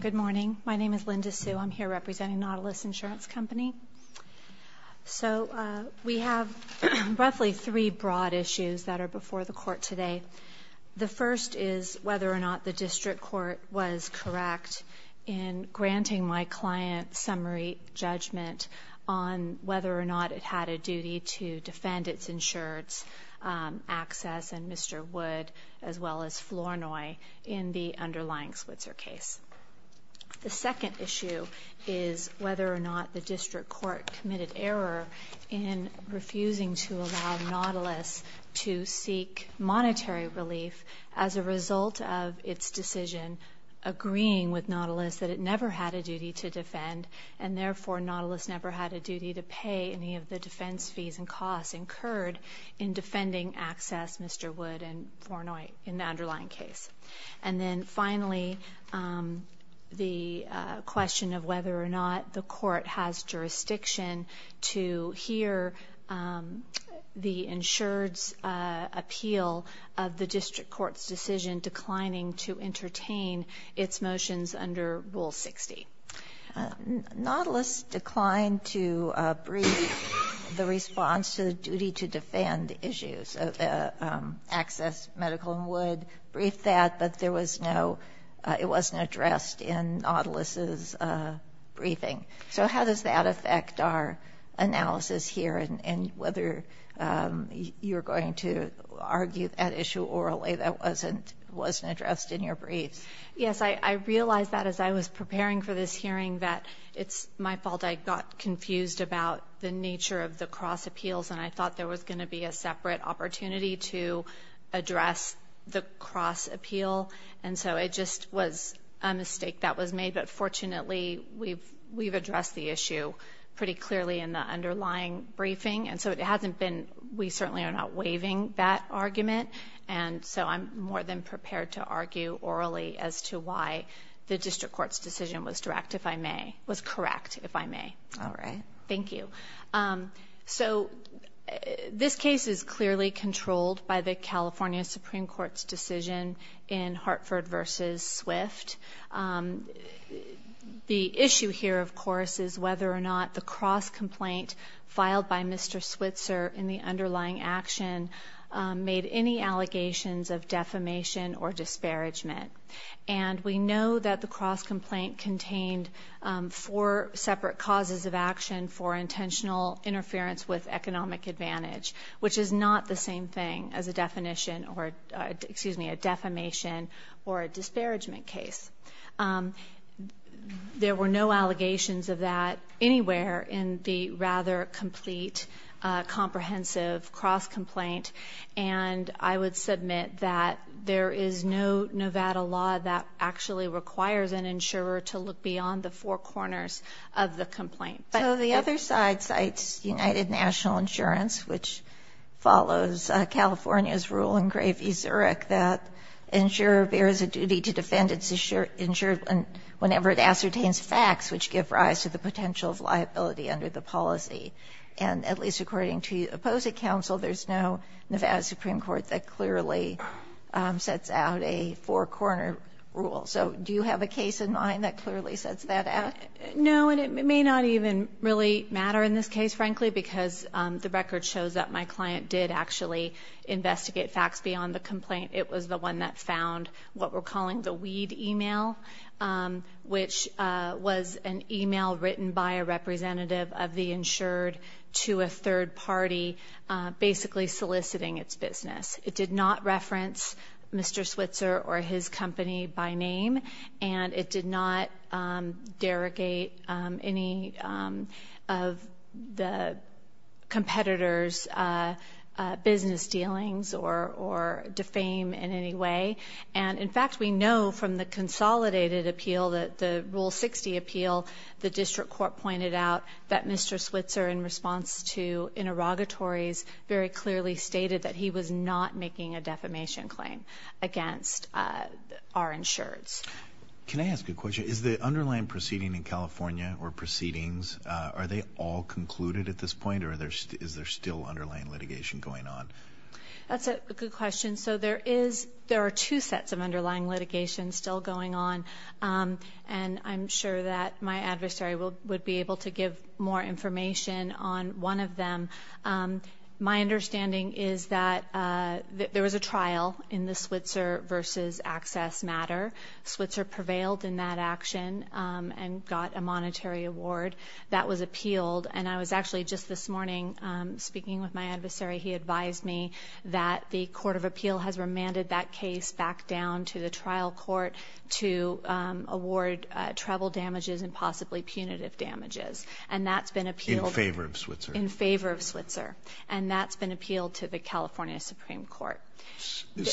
Good morning. My name is Linda Su. I'm here representing Nautilus Insurance Company. So we have roughly three broad issues that are before the court today. The first is whether or not the district court was correct in granting my client summary judgment on whether or not it had a duty to defend its insureds, Access and Mr. Wood, as well as Flournoy in the underlying Switzer case. The second issue is whether or not the district court committed error in refusing to allow Nautilus to seek monetary relief as a result of its decision agreeing with Nautilus that it never had a duty to defend, and therefore Nautilus never had a duty to pay any of the defense fees and costs incurred in defending Access, Mr. Wood, and Flournoy in the underlying case. And then finally, the question of whether or not the court has jurisdiction to hear the insured's appeal of the district court's decision declining to entertain its motions under Rule 60. Nautilus declined to brief the response to the duty to defend issues. Access, Medical, and Wood briefed that, but there was no ‑‑ it wasn't addressed in Nautilus's briefing. So how does that affect our analysis here and whether you're going to argue that issue orally that wasn't addressed in your briefs? Yes, I realized that as I was preparing for this hearing that it's my fault I got confused about the nature of the cross appeals and I thought there was going to be a separate opportunity to address the cross appeal. And so it just was a mistake that was made. But fortunately, we've addressed the issue pretty clearly in the underlying briefing. And so it hasn't been ‑‑ we certainly are not waiving that argument. And so I'm more than prepared to argue orally as to why the district court's decision was correct, if I may. All right. Thank you. So this case is clearly controlled by the California Supreme Court's decision in Hartford v. Swift. The issue here, of course, is whether or not the cross complaint filed by Mr. Switzer in the underlying action made any allegations of defamation or disparagement. And we know that the cross complaint contained four separate causes of action for intentional interference with economic advantage, which is not the same thing as a defamation or a disparagement case. There were no allegations of that anywhere in the rather complete, comprehensive cross complaint. And I would submit that there is no Nevada law that actually requires an insurer to look beyond the four corners of the complaint. So the other side cites United National Insurance, which follows California's rule in Gravy-Zurich that insurer bears a duty to defend its insurer whenever it ascertains facts which give rise to the potential of liability under the policy. And at least according to the opposing counsel, there's no Nevada Supreme Court that clearly sets out a four‑corner rule. So do you have a case in mind that clearly sets that out? No, and it may not even really matter in this case, frankly, because the record shows that my client did actually investigate facts beyond the complaint. It was the one that found what we're calling the weed email, which was an email written by a representative of the insured to a third party basically soliciting its business. It did not reference Mr. Switzer or his company by name, and it did not derogate any of the competitor's business dealings or defame in any way. And, in fact, we know from the consolidated appeal, the Rule 60 appeal, the district court pointed out that Mr. Switzer, in response to interrogatories, very clearly stated that he was not making a defamation claim against our insureds. Can I ask a question? Is the underlying proceeding in California or proceedings, are they all concluded at this point, or is there still underlying litigation going on? That's a good question. So there are two sets of underlying litigation still going on, and I'm sure that my adversary would be able to give more information on one of them. My understanding is that there was a trial in the Switzer v. Access matter. Switzer prevailed in that action and got a monetary award. That was appealed, and I was actually just this morning speaking with my adversary. He advised me that the court of appeal has remanded that case back down to the trial court to award travel damages and possibly punitive damages, and that's been appealed. In favor of Switzer. In favor of Switzer, and that's been appealed to the California Supreme Court. And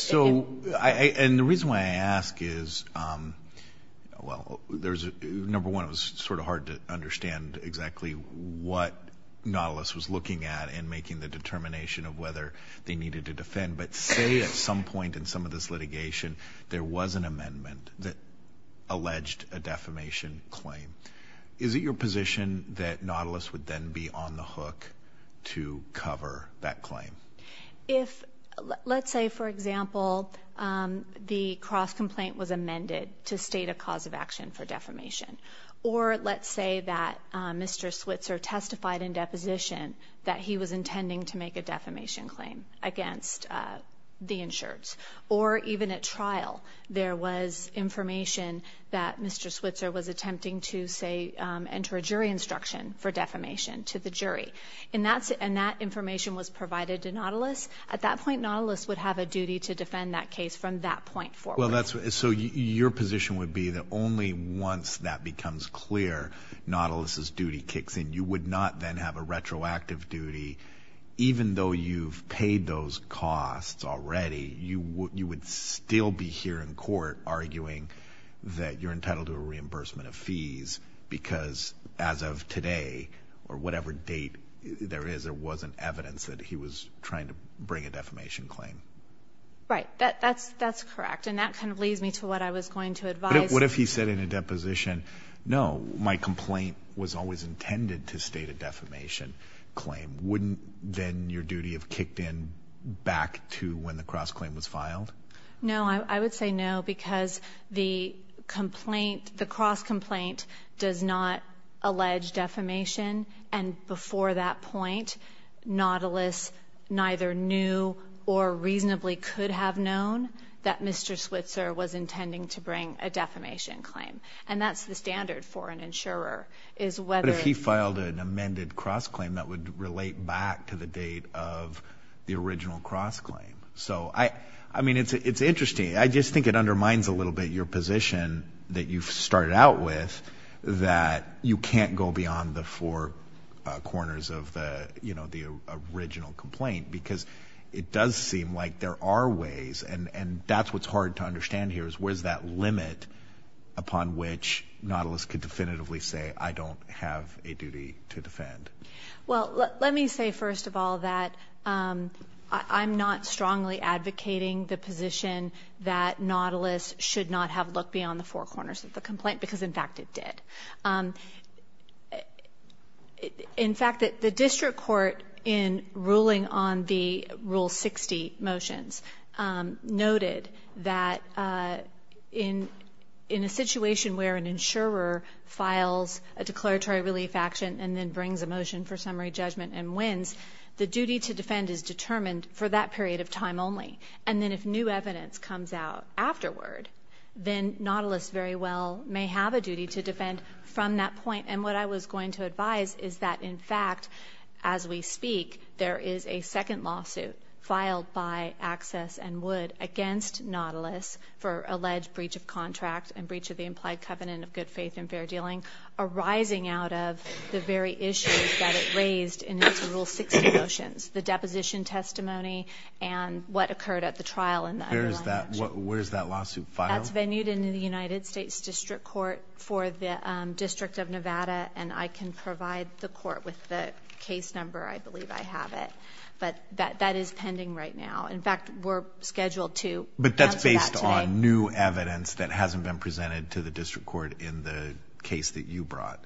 the reason why I ask is, well, number one, it was sort of hard to understand exactly what Nautilus was looking at in making the determination of whether they needed to defend, but say at some point in some of this litigation there was an amendment that alleged a defamation claim. Is it your position that Nautilus would then be on the hook to cover that claim? Let's say, for example, the cross-complaint was amended to state a cause of action for defamation. Or let's say that Mr. Switzer testified in deposition that he was intending to make a defamation claim against the insureds. Or even at trial there was information that Mr. Switzer was attempting to, say, enter a jury instruction for defamation to the jury. And that information was provided to Nautilus. At that point, Nautilus would have a duty to defend that case from that point forward. So your position would be that only once that becomes clear, Nautilus's duty kicks in. You would not then have a retroactive duty, even though you've paid those costs already. You would still be here in court arguing that you're entitled to a reimbursement of fees because as of today or whatever date there is, there wasn't evidence that he was trying to bring a defamation claim. Right. That's correct. And that kind of leads me to what I was going to advise. But what if he said in a deposition, no, my complaint was always intended to state a defamation claim? Wouldn't then your duty have kicked in back to when the cross-claim was filed? No, I would say no because the cross-complaint does not allege defamation. And before that point, Nautilus neither knew or reasonably could have known that Mr. Switzer was intending to bring a defamation claim. And that's the standard for an insurer. But if he filed an amended cross-claim, that would relate back to the date of the original cross-claim. So, I mean, it's interesting. I just think it undermines a little bit your position that you've started out with that you can't go beyond the four corners of the original complaint because it does seem like there are ways and that's what's hard to understand here is where's that limit upon which Nautilus could definitively say I don't have a duty to defend. Well, let me say first of all that I'm not strongly advocating the position that Nautilus should not have looked beyond the four corners of the complaint because, in fact, it did. In fact, the district court in ruling on the Rule 60 motions noted that in a situation where an insurer files a declaratory relief action and then brings a motion for summary judgment and wins, the duty to defend is determined for that period of time only. And then if new evidence comes out afterward, then Nautilus very well may have a duty to defend from that point. And what I was going to advise is that, in fact, as we speak, there is a second lawsuit filed by Access and Wood against Nautilus for alleged breach of contract and breach of the implied covenant of good faith and fair dealing, arising out of the very issues that it raised in its Rule 60 motions, the deposition testimony and what occurred at the trial in the underlying action. Where is that lawsuit filed? That's venued into the United States District Court for the District of Nevada, and I can provide the court with the case number. I believe I have it. But that is pending right now. In fact, we're scheduled to answer that today. But that's based on new evidence that hasn't been presented to the district court in the case that you brought.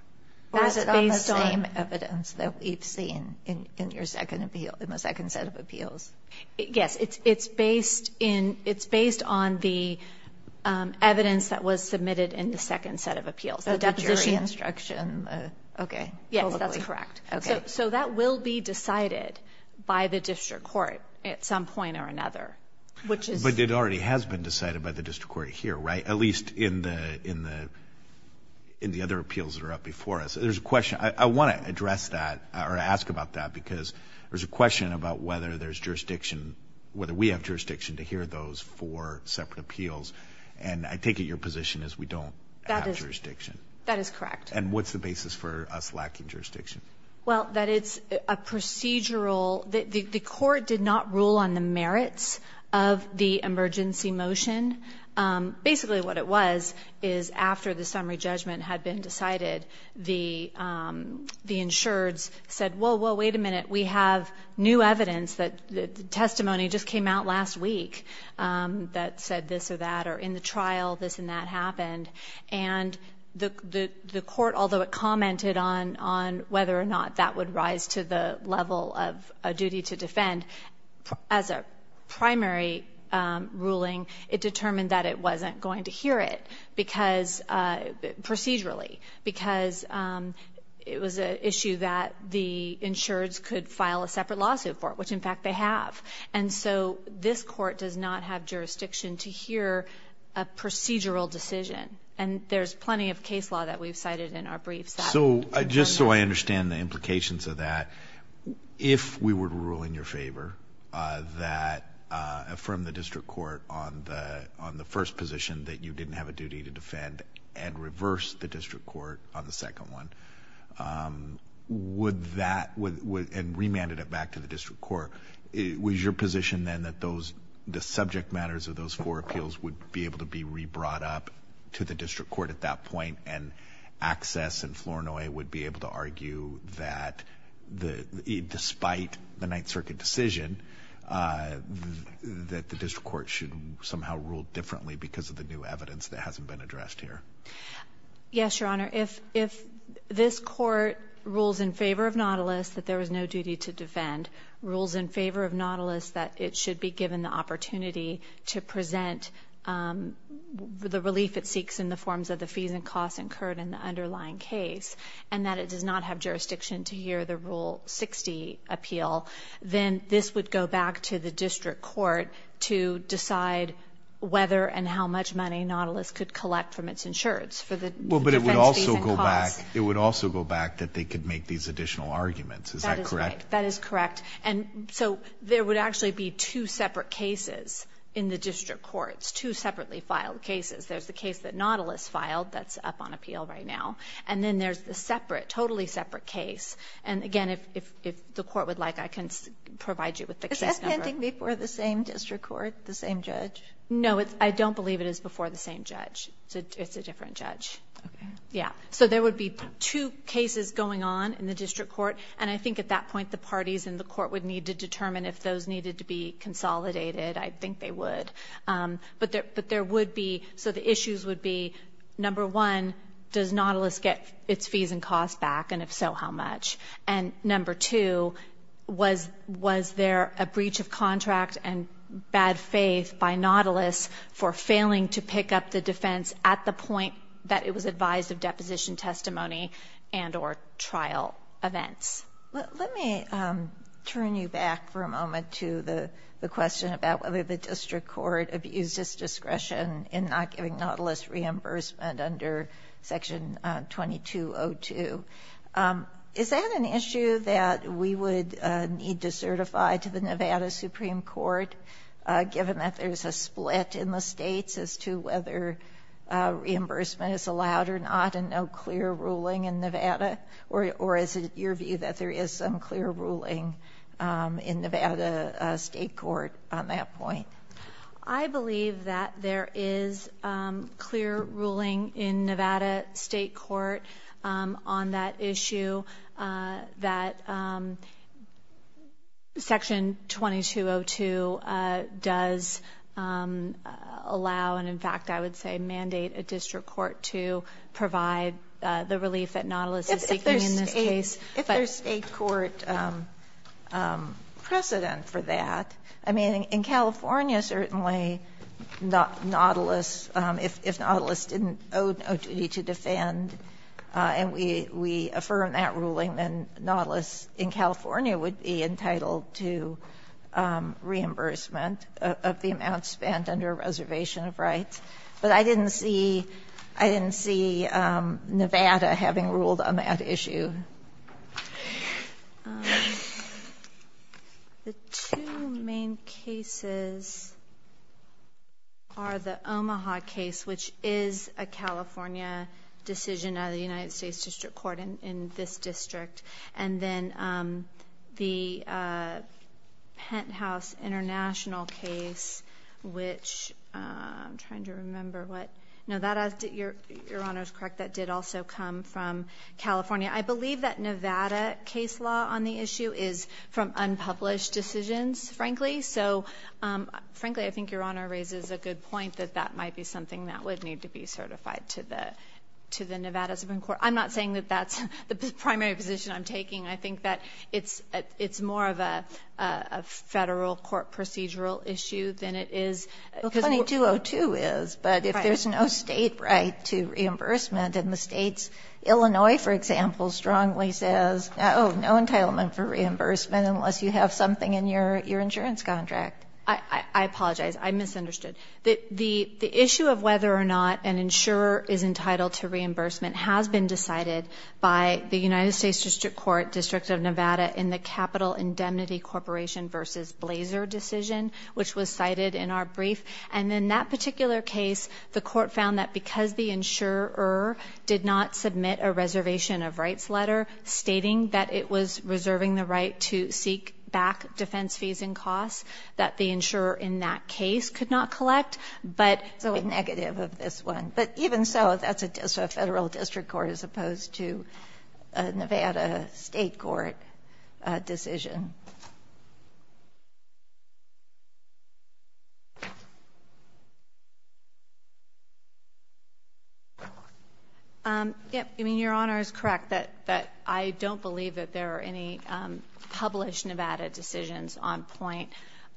Well, is it based on the same evidence that we've seen in your second set of appeals? Yes. It's based on the evidence that was submitted in the second set of appeals, the deposition instruction. Okay. Yes, that's correct. Okay. So that will be decided by the district court at some point or another, which is... But it already has been decided by the district court here, right, at least in the other appeals that are up before us. There's a question. I want to address that or ask about that because there's a question about whether there's jurisdiction, whether we have jurisdiction to hear those for separate appeals, and I take it your position is we don't have jurisdiction. That is correct. And what's the basis for us lacking jurisdiction? Well, that it's a procedural... The court did not rule on the merits of the emergency motion. Basically what it was is after the summary judgment had been decided, the insureds said, whoa, whoa, wait a minute, we have new evidence that the testimony just came out last week that said this or that or in the trial this and that happened. And the court, although it commented on whether or not that would rise to the level of a duty to defend, as a primary ruling it determined that it wasn't going to hear it because procedurally, because it was an issue that the insureds could file a separate lawsuit for, which in fact they have. And so this court does not have jurisdiction to hear a procedural decision. And there's plenty of case law that we've cited in our briefs. So just so I understand the implications of that, if we were to rule in your favor, that from the district court on the first position that you didn't have a duty to defend and reverse the district court on the second one, would that... Is your position then that the subject matters of those four appeals would be able to be re-brought up to the district court at that point and access and Flournoy would be able to argue that despite the Ninth Circuit decision, that the district court should somehow rule differently because of the new evidence that hasn't been addressed here? Yes, Your Honor. If this court rules in favor of Nautilus that there was no duty to defend, rules in favor of Nautilus that it should be given the opportunity to present the relief it seeks in the forms of the fees and costs incurred in the underlying case, and that it does not have jurisdiction to hear the Rule 60 appeal, then this would go back to the district court to decide whether and how much money Nautilus could collect from its insurance for the defense fees and costs. Well, but it would also go back that they could make these additional arguments. Is that correct? That is correct. And so there would actually be two separate cases in the district courts, two separately filed cases. There's the case that Nautilus filed that's up on appeal right now, and then there's the separate, totally separate case. And again, if the court would like, I can provide you with the case number. Is that pending before the same district court, the same judge? No, I don't believe it is before the same judge. It's a different judge. Okay. Yeah. So there would be two cases going on in the district court, and I think at that point the parties in the court would need to determine if those needed to be consolidated. I think they would. But there would be, so the issues would be, number one, does Nautilus get its fees and costs back, and if so, how much? And number two, was there a breach of contract and bad faith by Nautilus for failing to pick up the defense at the point that it was advised of deposition testimony and or trial events? Let me turn you back for a moment to the question about whether the district court abused its discretion in not giving Nautilus reimbursement under Section 2202. Is that an issue that we would need to certify to the Nevada Supreme Court, given that there's a split in the states as to whether reimbursement is allowed or not and no clear ruling in Nevada? Or is it your view that there is some clear ruling in Nevada state court on that point? I believe that there is clear ruling in Nevada state court on that issue, that Section 2202 does allow and, in fact, I would say mandate a district court to provide the relief that Nautilus is seeking in this case. If there's state court precedent for that, I mean, in California, certainly, Nautilus, if Nautilus didn't owe no duty to defend and we affirm that ruling, then Nautilus in California would be entitled to reimbursement of the amount spent under a reservation of rights. But I didn't see Nevada having ruled on that issue. The two main cases are the Omaha case, which is a California decision out of the United States District Court in this district, and then the Penthouse International case, which I'm trying to remember what. No, your Honor is correct. That did also come from California. I believe that Nevada case law on the issue is from unpublished decisions, frankly. So, frankly, I think your Honor raises a good point that that might be something that would need to be certified to the Nevada Supreme Court. I'm not saying that that's the primary position I'm taking. I think that it's more of a Federal court procedural issue than it is. Well, 2202 is, but if there's no state right to reimbursement, then the states, Illinois, for example, strongly says, oh, no entitlement for reimbursement unless you have something in your insurance contract. I apologize. I misunderstood. The issue of whether or not an insurer is entitled to reimbursement has been decided by the United States District Court, District of Nevada, in the Capital Indemnity Corporation v. Blazer decision, which was cited in our brief. And in that particular case, the court found that because the insurer did not submit a reservation of rights letter stating that it was reserving the right to seek back defense fees and costs, that the insurer in that case could not collect. So a negative of this one. But even so, that's a Federal District Court as opposed to a Nevada State Court decision. Your Honor is correct that I don't believe that there are any published Nevada decisions on point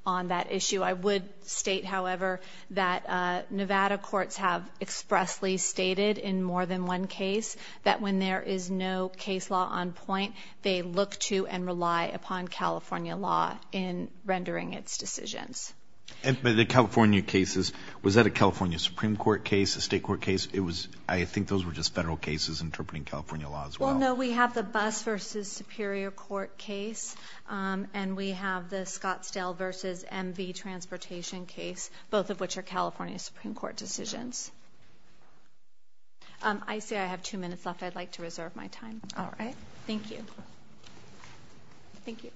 on that issue. I would state, however, that Nevada courts have expressly stated in more than one case that when there is no case law on point, they look to and rely upon California law in rendering its decisions. But the California cases, was that a California Supreme Court case, a State Court case? I think those were just Federal cases interpreting California law as well. Well, no. We have the Bus v. Superior Court case and we have the Scottsdale v. MV Transportation case, both of which are California Supreme Court decisions. I see I have two minutes left. If I'd like to reserve my time. All right. Thank you. Thank you.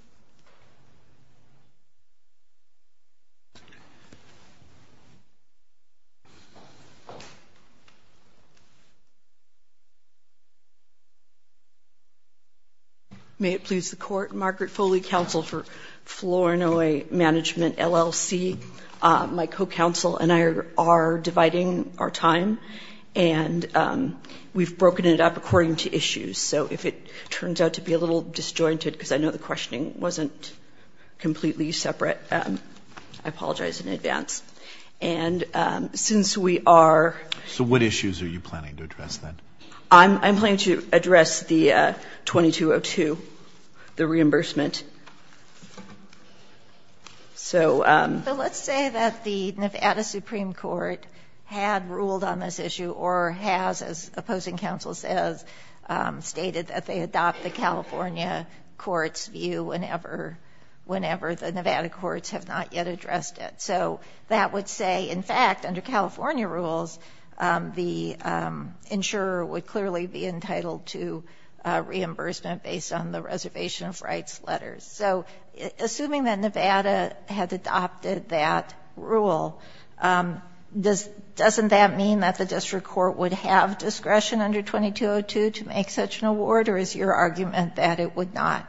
May it please the Court, Margaret Foley, Counsel for Floranoi Management, LLC. My co-counsel and I are dividing our time. And we've broken it up according to issues. So if it turns out to be a little disjointed, because I know the questioning wasn't completely separate, I apologize in advance. And since we are. So what issues are you planning to address then? I'm planning to address the 2202, the reimbursement. So. But let's say that the Nevada Supreme Court had ruled on this issue or has, as opposing counsel says, stated that they adopt the California court's view whenever the Nevada courts have not yet addressed it. So that would say, in fact, under California rules, the insurer would clearly be entitled to reimbursement based on the reservation of rights letters. So assuming that Nevada had adopted that rule, doesn't that mean that the district court would have discretion under 2202 to make such an award, or is your argument that it would not?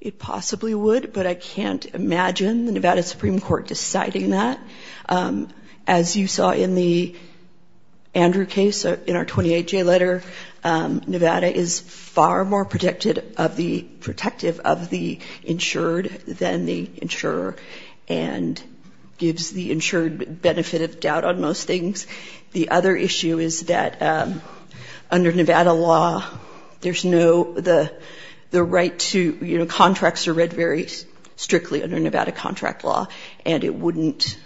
It possibly would, but I can't imagine the Nevada Supreme Court deciding that. As you saw in the Andrew case, in our 28-J letter, Nevada is far more protective of the insured than the insurer, and gives the insured benefit of doubt on most things. The other issue is that under Nevada law, there's no the right to, you know, contracts are read very strictly under Nevada contract law, and it wouldn't,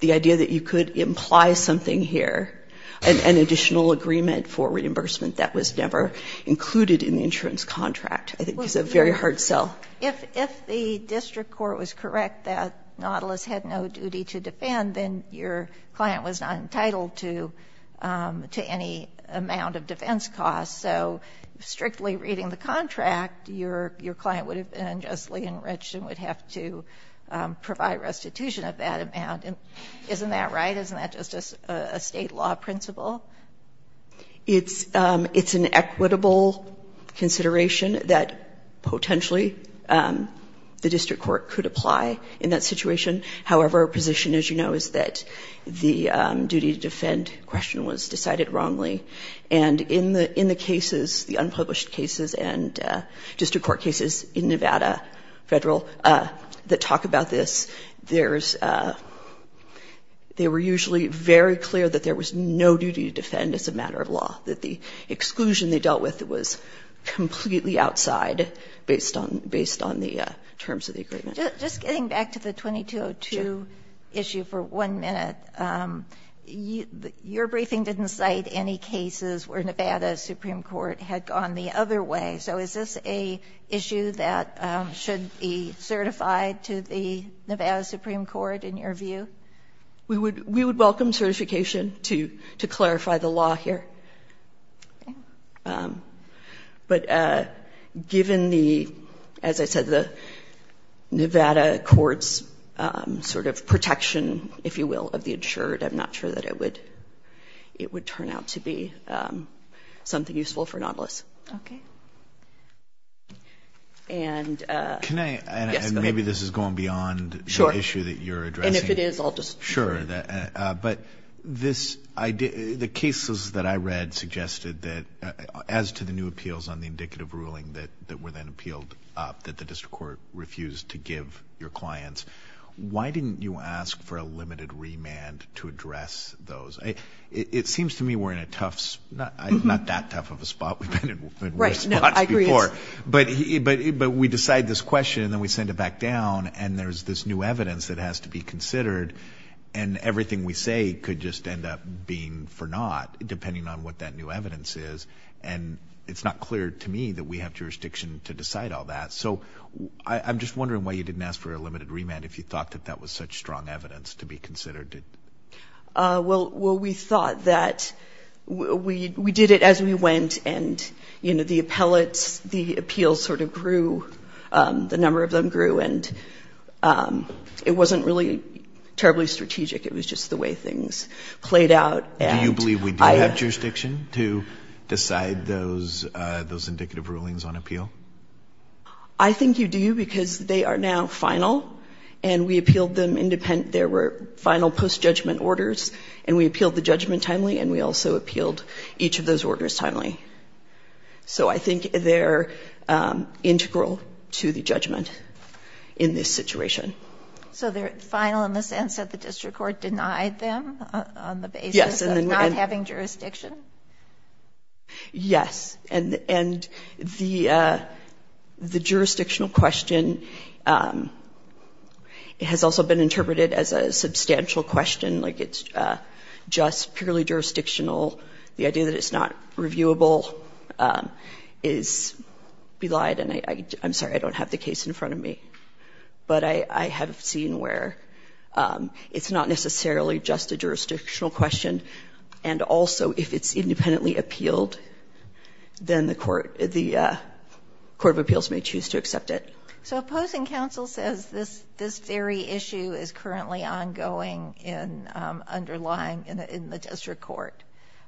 the idea that you could imply something here, an additional agreement for reimbursement that was never included in the insurance contract, I think is a very hard sell. If the district court was correct that Nautilus had no duty to defend, then your client was not entitled to any amount of defense costs. So strictly reading the contract, your client would have been unjustly enriched and would have to provide restitution of that amount. Isn't that right? Isn't that just a state law principle? It's an equitable consideration that potentially the district court could apply in that situation. However, our position, as you know, is that the duty to defend question was decided wrongly, and in the cases, the unpublished cases and district court cases in Nevada Federal that talk about this, there's, they were usually very clear that there was no duty to defend as a matter of law, that the exclusion they dealt with was completely outside based on the terms of the agreement. Just getting back to the 2202 issue for one minute, your briefing didn't cite any cases where Nevada Supreme Court had gone the other way. So is this an issue that should be certified to the Nevada Supreme Court in your view? We would welcome certification to clarify the law here. Okay. But given the, as I said, the Nevada court's sort of protection, if you will, of the insured, I'm not sure that it would turn out to be something useful for Nautilus. Okay. And, yes, go ahead. Can I, and maybe this is going beyond the issue that you're addressing. Sure. And if it is, I'll just. Sure. But this, the cases that I read suggested that as to the new appeals on the indicative ruling that were then appealed up that the district court refused to give your clients, why didn't you ask for a limited remand to address those? It seems to me we're in a tough, not that tough of a spot. We've been in worse spots before. Right. No, I agree. But we decide this question and then we send it back down and there's this new evidence that has to be considered and everything we say could just end up being for naught, depending on what that new evidence is. And it's not clear to me that we have jurisdiction to decide all that. So I'm just wondering why you didn't ask for a limited remand if you thought that that was such strong evidence to be considered. Well, we thought that we did it as we went and, you know, the appellates, the appeals sort of grew, the number of them grew, and it wasn't really terribly strategic. It was just the way things played out. Do you believe we do have jurisdiction to decide those indicative rulings on appeal? I think you do because they are now final and we appealed them independent. There were final post-judgment orders and we appealed the judgment timely and we also appealed each of those orders timely. So I think they're integral to the judgment in this situation. So they're final in the sense that the district court denied them on the basis of not having jurisdiction? Yes. And the jurisdictional question has also been interpreted as a substantial question, like it's just purely jurisdictional. The idea that it's not reviewable is belied. And I'm sorry, I don't have the case in front of me. But I have seen where it's not necessarily just a jurisdictional question and also if it's independently appealed, then the court of appeals may choose to accept it. So opposing counsel says this very issue is currently ongoing in underlying in the district court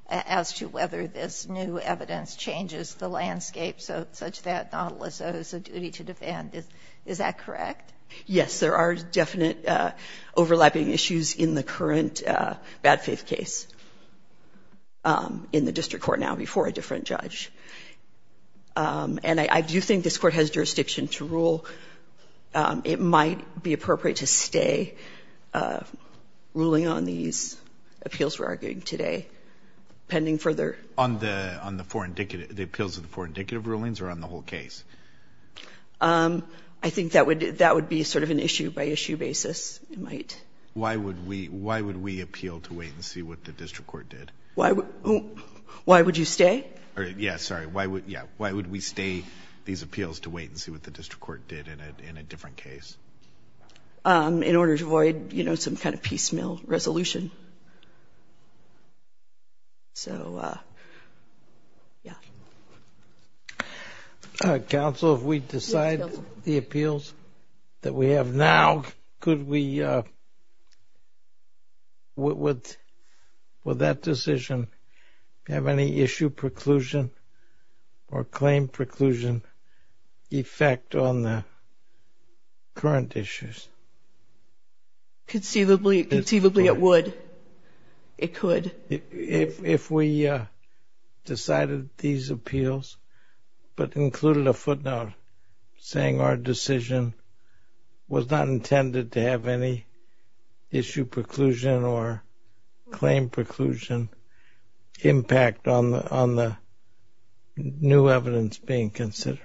as to whether this new evidence changes the landscape such that Nautilus owes a duty to defend. Is that correct? Yes. There are definite overlapping issues in the current bad faith case in the district court now before a different judge. And I do think this Court has jurisdiction to rule. It might be appropriate to stay ruling on these appeals we're arguing today pending further. On the four indicative, the appeals of the four indicative rulings or on the whole I think that would be sort of an issue-by-issue basis. Why would we appeal to wait and see what the district court did? Why would you stay? Yes, sorry. Why would we stay these appeals to wait and see what the district court did in a different case? In order to avoid some kind of piecemeal resolution. So, yeah. Counsel, if we decide the appeals that we have now, could we, would that decision have any issue preclusion or claim preclusion effect on the current issues? Conceivably it would. It could. If we decided these appeals but included a footnote saying our decision was not intended to have any issue preclusion or claim preclusion impact on the new evidence being considered,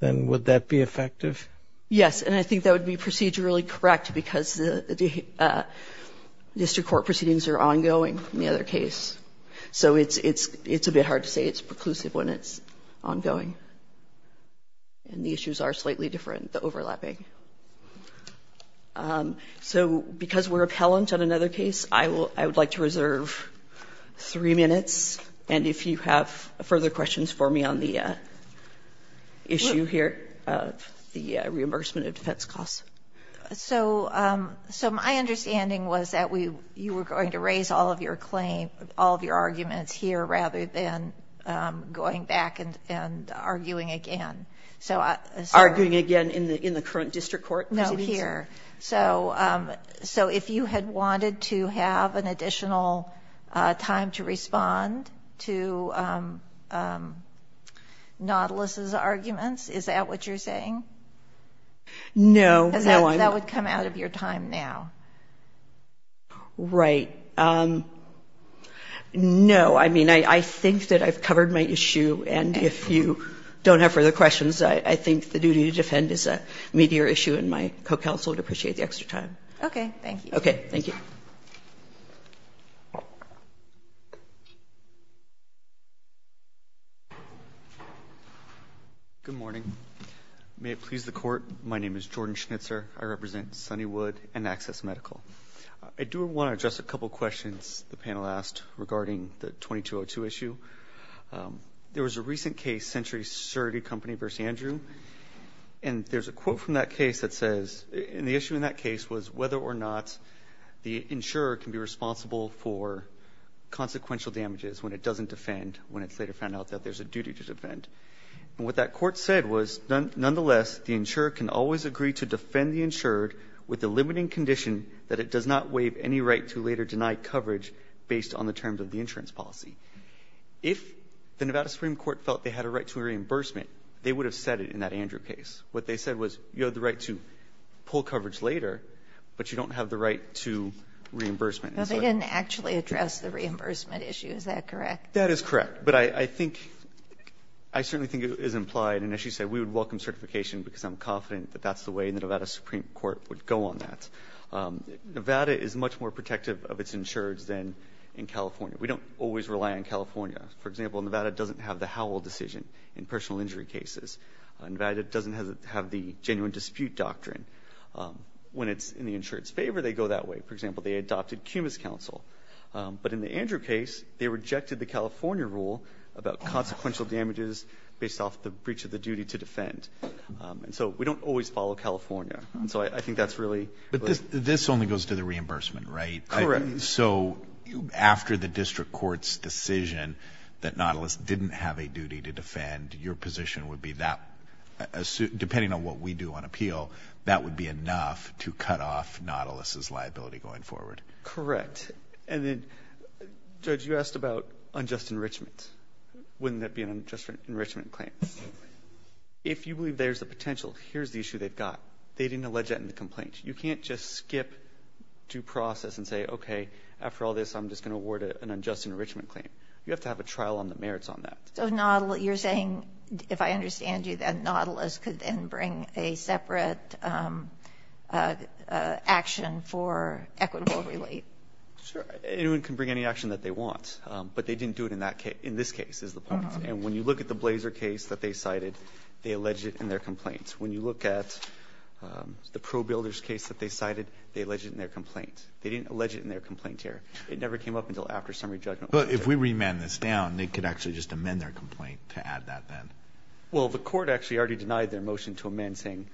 then would that be effective? Yes. And I think that would be procedurally correct because the district court proceedings are ongoing in the other case. So it's a bit hard to say it's preclusive when it's ongoing. And the issues are slightly different, the overlapping. So because we're appellant on another case, I would like to reserve three minutes. And if you have further questions for me on the issue here, the reimbursement of defense costs. So my understanding was that you were going to raise all of your claim, all of your arguments here rather than going back and arguing again. Arguing again in the current district court proceedings? No, here. So if you had wanted to have an additional time to respond to Nautilus's arguments, is that what you're saying? No. Because that would come out of your time now. Right. No. I mean, I think that I've covered my issue, and if you don't have further questions, I think the duty to defend is a meatier issue, and my co-counsel would appreciate the extra time. Okay. Thank you. Okay. Thank you. Good morning. May it please the Court, my name is Jordan Schnitzer. I represent Sunnywood and Access Medical. I do want to address a couple of questions the panel asked regarding the 2202 issue. There was a recent case, Century Security Company v. Andrew. And there's a quote from that case that says, and the issue in that case was whether or not the insurer can be responsible for consequential damages when it doesn't defend, when it's later found out that there's a duty to defend. And what that court said was, nonetheless, the insurer can always agree to defend the insured with the limiting condition that it does not waive any right to later based on the terms of the insurance policy. If the Nevada Supreme Court felt they had a right to reimbursement, they would have said it in that Andrew case. What they said was, you have the right to pull coverage later, but you don't have the right to reimbursement. No, they didn't actually address the reimbursement issue. Is that correct? That is correct. But I think, I certainly think it is implied, and as you said, we would welcome certification because I'm confident that that's the way the Nevada Supreme Court would go on that. Nevada is much more protective of its insureds than in California. We don't always rely on California. For example, Nevada doesn't have the Howell decision in personal injury cases. Nevada doesn't have the genuine dispute doctrine. When it's in the insured's favor, they go that way. For example, they adopted CUMA's counsel. But in the Andrew case, they rejected the California rule about consequential damages based off the breach of the duty to defend. And so we don't always follow California. But this only goes to the reimbursement, right? Correct. So after the district court's decision that Nautilus didn't have a duty to defend, your position would be that, depending on what we do on appeal, that would be enough to cut off Nautilus' liability going forward. Correct. And then, Judge, you asked about unjust enrichment. Wouldn't that be an unjust enrichment claim? If you believe there's a potential, here's the issue they've got. They didn't allege that in the complaint. You can't just skip due process and say, okay, after all this, I'm just going to award an unjust enrichment claim. You have to have a trial on the merits on that. So you're saying, if I understand you, that Nautilus could then bring a separate action for equitable relief? Sure. Anyone can bring any action that they want. But they didn't do it in this case is the point. And when you look at the Blazer case that they cited, they alleged it in their complaint. When you look at the ProBuilders case that they cited, they alleged it in their complaint. They didn't allege it in their complaint here. It never came up until after summary judgment. But if we remand this down, they could actually just amend their complaint to add that then. Well, the court actually already denied their motion to amend, saying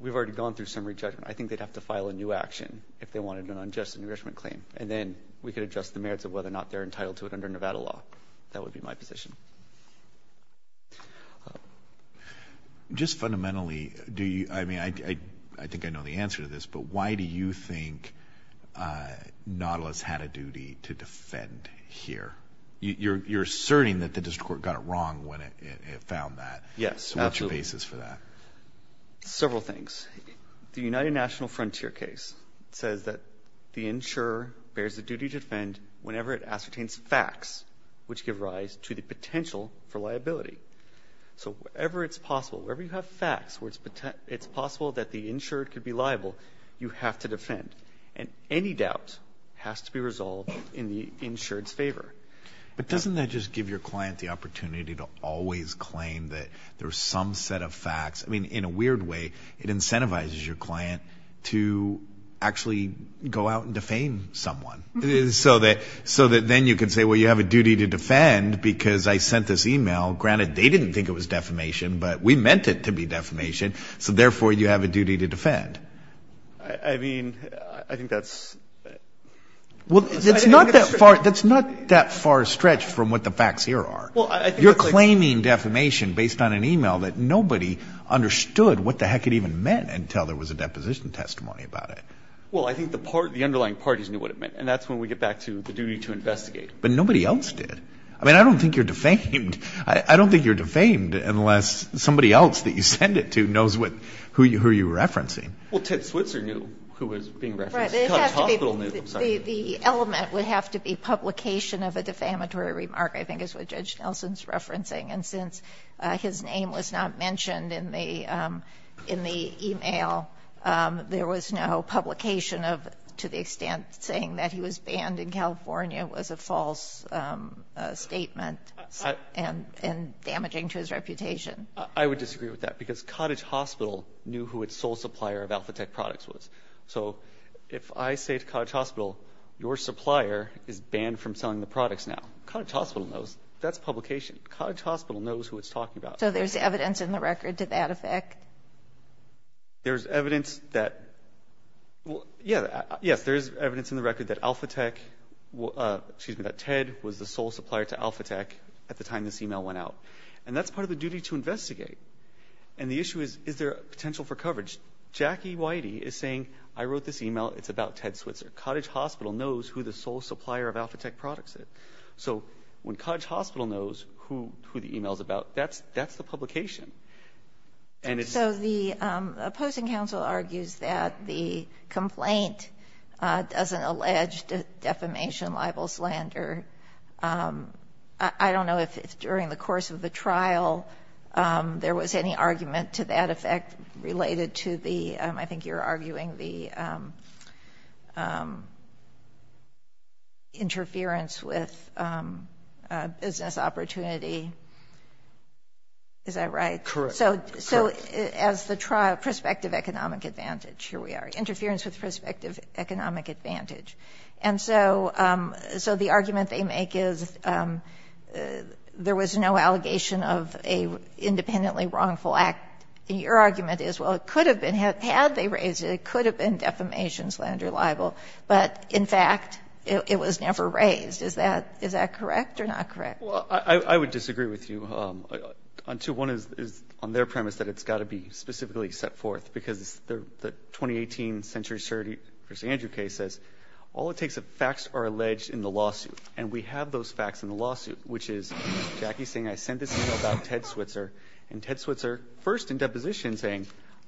we've already gone through summary judgment. I think they'd have to file a new action if they wanted an unjust enrichment claim. And then we could adjust the merits of whether or not they're entitled to it under Nevada law. That would be my position. Just fundamentally, I think I know the answer to this, but why do you think Nautilus had a duty to defend here? You're asserting that the district court got it wrong when it found that. Yes, absolutely. What's your basis for that? Several things. The United National Frontier case says that the insurer bears the duty to defend whenever it ascertains facts which give rise to the potential for liability. So wherever it's possible, wherever you have facts where it's possible that the insured could be liable, you have to defend. And any doubt has to be resolved in the insured's favor. But doesn't that just give your client the opportunity to always claim that there's some set of facts? I mean, in a weird way, it incentivizes your client to actually go out and defame someone so that then you can say, well, you have a duty to defend because I sent this e-mail. Granted, they didn't think it was defamation, but we meant it to be defamation, so therefore you have a duty to defend. I mean, I think that's... Well, that's not that far stretched from what the facts here are. You're claiming defamation based on an e-mail that nobody understood what the heck it even meant until there was a deposition testimony about it. Well, I think the underlying parties knew what it meant, and that's when we get back to the duty to investigate. But nobody else did. I mean, I don't think you're defamed. I don't think you're defamed unless somebody else that you send it to knows who you're referencing. Well, Ted Switzer knew who was being referenced. The element would have to be publication of a defamatory remark, I think, is what Judge Nelson's referencing. And since his name was not mentioned in the e-mail, there was no publication of to the extent saying that he was banned in California was a false statement and damaging to his reputation. I would disagree with that because Cottage Hospital knew who its sole supplier of AlphaTech products was. So if I say to Cottage Hospital, your supplier is banned from selling the products now, Cottage Hospital knows that's publication. Cottage Hospital knows who it's talking about. So there's evidence in the record to that effect? There's evidence that, yes, there is evidence in the record that AlphaTech, excuse me, that Ted was the sole supplier to AlphaTech at the time this e-mail went out. And that's part of the duty to investigate. And the issue is, is there potential for coverage? Jackie Whitey is saying, I wrote this e-mail. It's about Ted Switzer. Cottage Hospital knows who the sole supplier of AlphaTech products is. So when Cottage Hospital knows who the e-mail is about, that's the publication. And it's the opposing counsel argues that the complaint doesn't allege defamation, libel, slander. I don't know if during the course of the trial there was any argument to that effect related to the, I think you're arguing, the interference with business opportunity. Is that right? Correct. So as the trial, prospective economic advantage, here we are, interference with prospective economic advantage. And so the argument they make is there was no allegation of an independently wrongful act. And your argument is, well, it could have been. Had they raised it, it could have been defamation, slander, libel. But, in fact, it was never raised. Is that correct or not correct? Well, I would disagree with you on two. One is on their premise that it's got to be specifically set forth, because the 2018 Century Surgery v. Andrew case says, all it takes is facts are alleged in the lawsuit. And we have those facts in the lawsuit, which is Jackie saying, I sent this e-mail about Ted Switzer. And Ted Switzer, first in deposition, saying,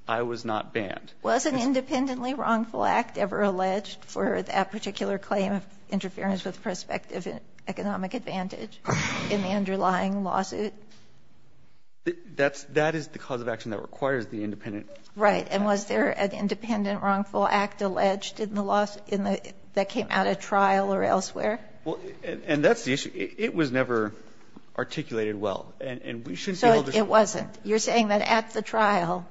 I was not banned. Was an independently wrongful act ever alleged for that particular claim of interference with prospective economic advantage in the underlying lawsuit? That is the cause of action that requires the independent. Right. And was there an independent wrongful act alleged in the lawsuit that came out of trial or elsewhere? And that's the issue. It was never articulated well. So it wasn't. You're saying that at the trial,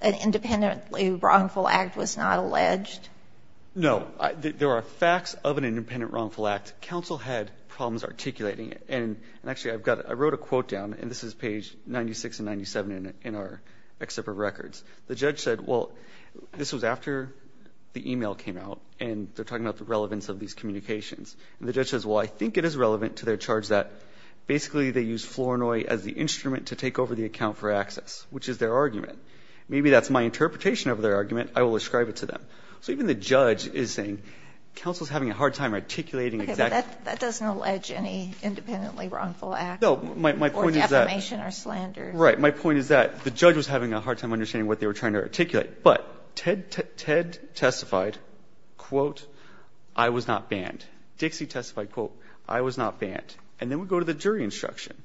an independently wrongful act was not alleged? No. There are facts of an independent wrongful act. Counsel had problems articulating it. And actually, I wrote a quote down, and this is page 96 and 97 in our excerpt of records. The judge said, well, this was after the e-mail came out, and they're talking about the relevance of these communications. And the judge says, well, I think it is relevant to their charge that basically they use Flournoy as the instrument to take over the account for access, which is their argument. Maybe that's my interpretation of their argument. I will ascribe it to them. So even the judge is saying counsel is having a hard time articulating exactly the case. Okay. But that doesn't allege any independently wrongful act. No. My point is that. Or defamation or slander. Right. My point is that the judge was having a hard time understanding what they were trying to articulate. But Ted testified, quote, I was not banned. Dixie testified, quote, I was not banned. And then we go to the jury instruction.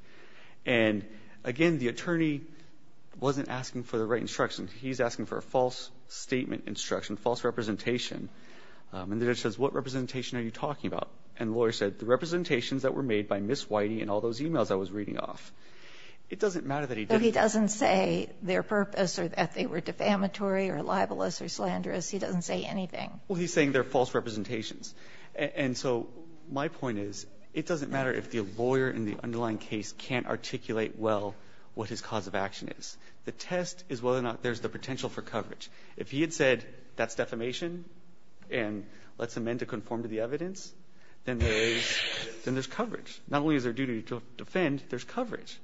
And, again, the attorney wasn't asking for the right instruction. He's asking for a false statement instruction, false representation. And the judge says, what representation are you talking about? And the lawyer said, the representations that were made by Ms. Whitey and all those e-mails I was reading off. It doesn't matter that he didn't. But he doesn't say their purpose or that they were defamatory or libelous or slanderous. He doesn't say anything. Well, he's saying they're false representations. And so my point is, it doesn't matter if the lawyer in the underlying case can't articulate well what his cause of action is. The test is whether or not there's the potential for coverage. If he had said that's defamation and let's amend to conform to the evidence, then there is coverage. Not only is there a duty to defend, there's coverage.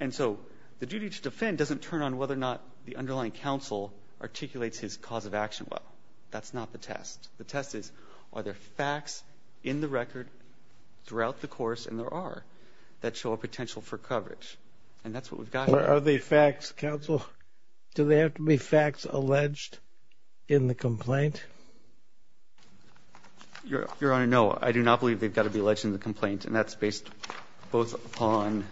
And so the duty to defend doesn't turn on whether or not the underlying counsel articulates his cause of action well. That's not the test. The test is, are there facts in the record throughout the course, and there are, that show a potential for coverage? And that's what we've got here. Are they facts, counsel? Do they have to be facts alleged in the complaint? Your Honor, no. I do not believe they've got to be alleged in the complaint. And that's based both upon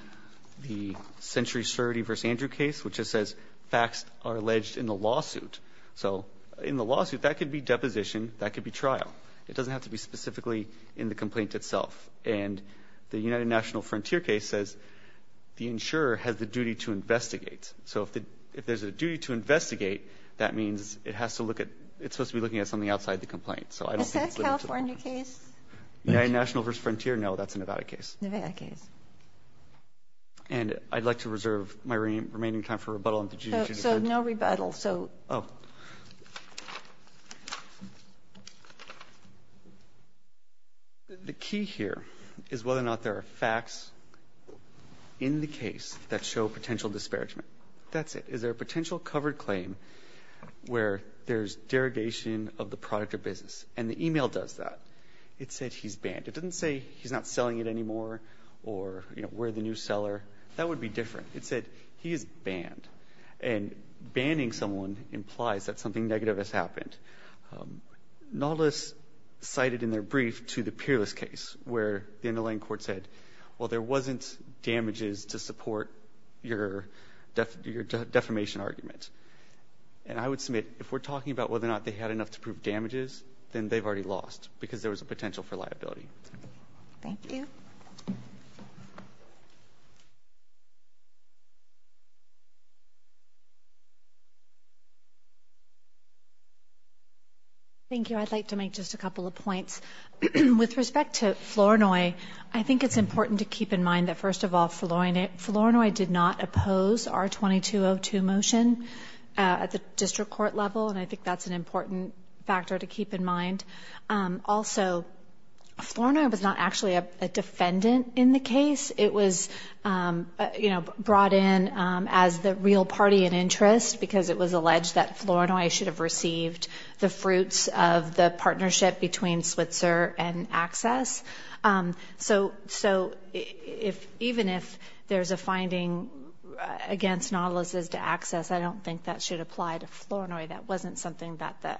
the Century Surity v. Andrew case, which says facts are alleged in the lawsuit. So in the lawsuit, that could be deposition, that could be trial. It doesn't have to be specifically in the complaint itself. And the United National Frontier case says the insurer has the duty to investigate. So if there's a duty to investigate, that means it has to look at, it's supposed to be looking at something outside the complaint. Is that a California case? United National v. Frontier, no, that's a Nevada case. Nevada case. And I'd like to reserve my remaining time for rebuttal on the duty to defend. So no rebuttal. Oh. The key here is whether or not there are facts in the case that show potential disparagement. That's it. Is there a potential covered claim where there's derogation of the product or business? And the e-mail does that. It said he's banned. It doesn't say he's not selling it anymore or, you know, we're the new seller. That would be different. It said he is banned. And banning someone implies that something negative has happened. Nautilus cited in their brief to the Peerless case where the underlying court said, well, there wasn't damages to support your defamation argument. And I would submit if we're talking about whether or not they had enough to prove damages, then they've already lost because there was a potential for liability. Thank you. Thank you. I'd like to make just a couple of points. With respect to Flournoy, I think it's important to keep in mind that, first of all, Flournoy did not oppose our 2202 motion at the district court level, and I think that's an important factor to keep in mind. Also, Flournoy was not actually a defendant in the case. It was, you know, brought in as the real party in interest because it was alleged that Flournoy should have received the fruits of the partnership between Switzer and Access. So even if there's a finding against Nautilus' access, I don't think that should apply to Flournoy. That wasn't something that the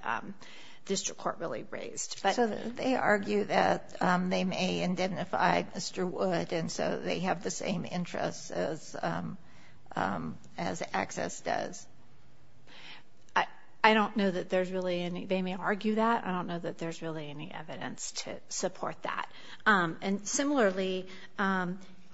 district court really raised. So they argue that they may identify Mr. Wood, and so they have the same interests as Access does. I don't know that there's really any. They may argue that. I don't know that there's really any evidence to support that. And similarly,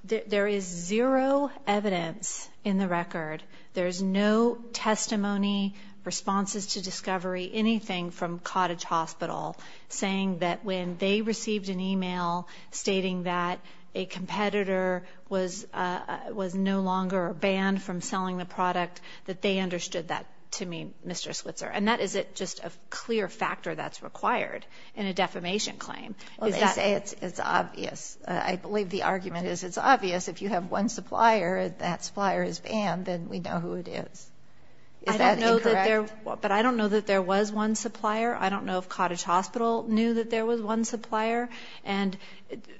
there is zero evidence in the record. There's no testimony, responses to discovery, anything from Cottage Hospital saying that when they received an email stating that a competitor was no longer banned from selling the product, that they understood that to mean Mr. Switzer. And that is just a clear factor that's required in a defamation claim. Well, they say it's obvious. I believe the argument is it's obvious. If you have one supplier and that supplier is banned, then we know who it is. Is that incorrect? But I don't know that there was one supplier. I don't know if Cottage Hospital knew that there was one supplier. And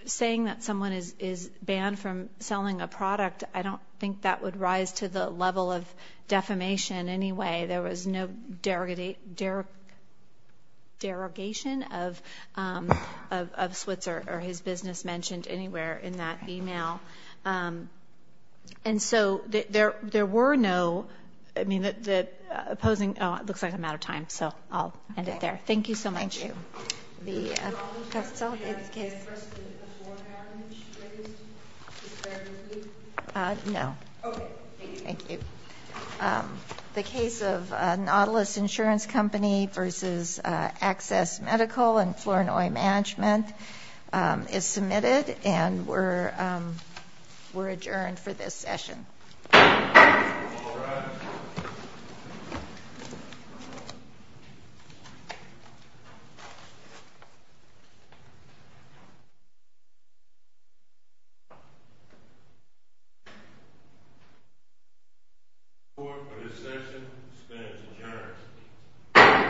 saying that someone is banned from selling a product, I don't think that would rise to the level of defamation in any way. There was no derogation of Switzer or his business mentioned anywhere in that email. And so there were no opposing – oh, it looks like I'm out of time, so I'll end it there. Thank you so much. Thank you. The – Did you have a precedent before marriage? No. Okay, thank you. Thank you. The case of Nautilus Insurance Company versus Access Medical and Flournoy Management is submitted, and we're adjourned for this session. All rise. The court, for this session, stands adjourned.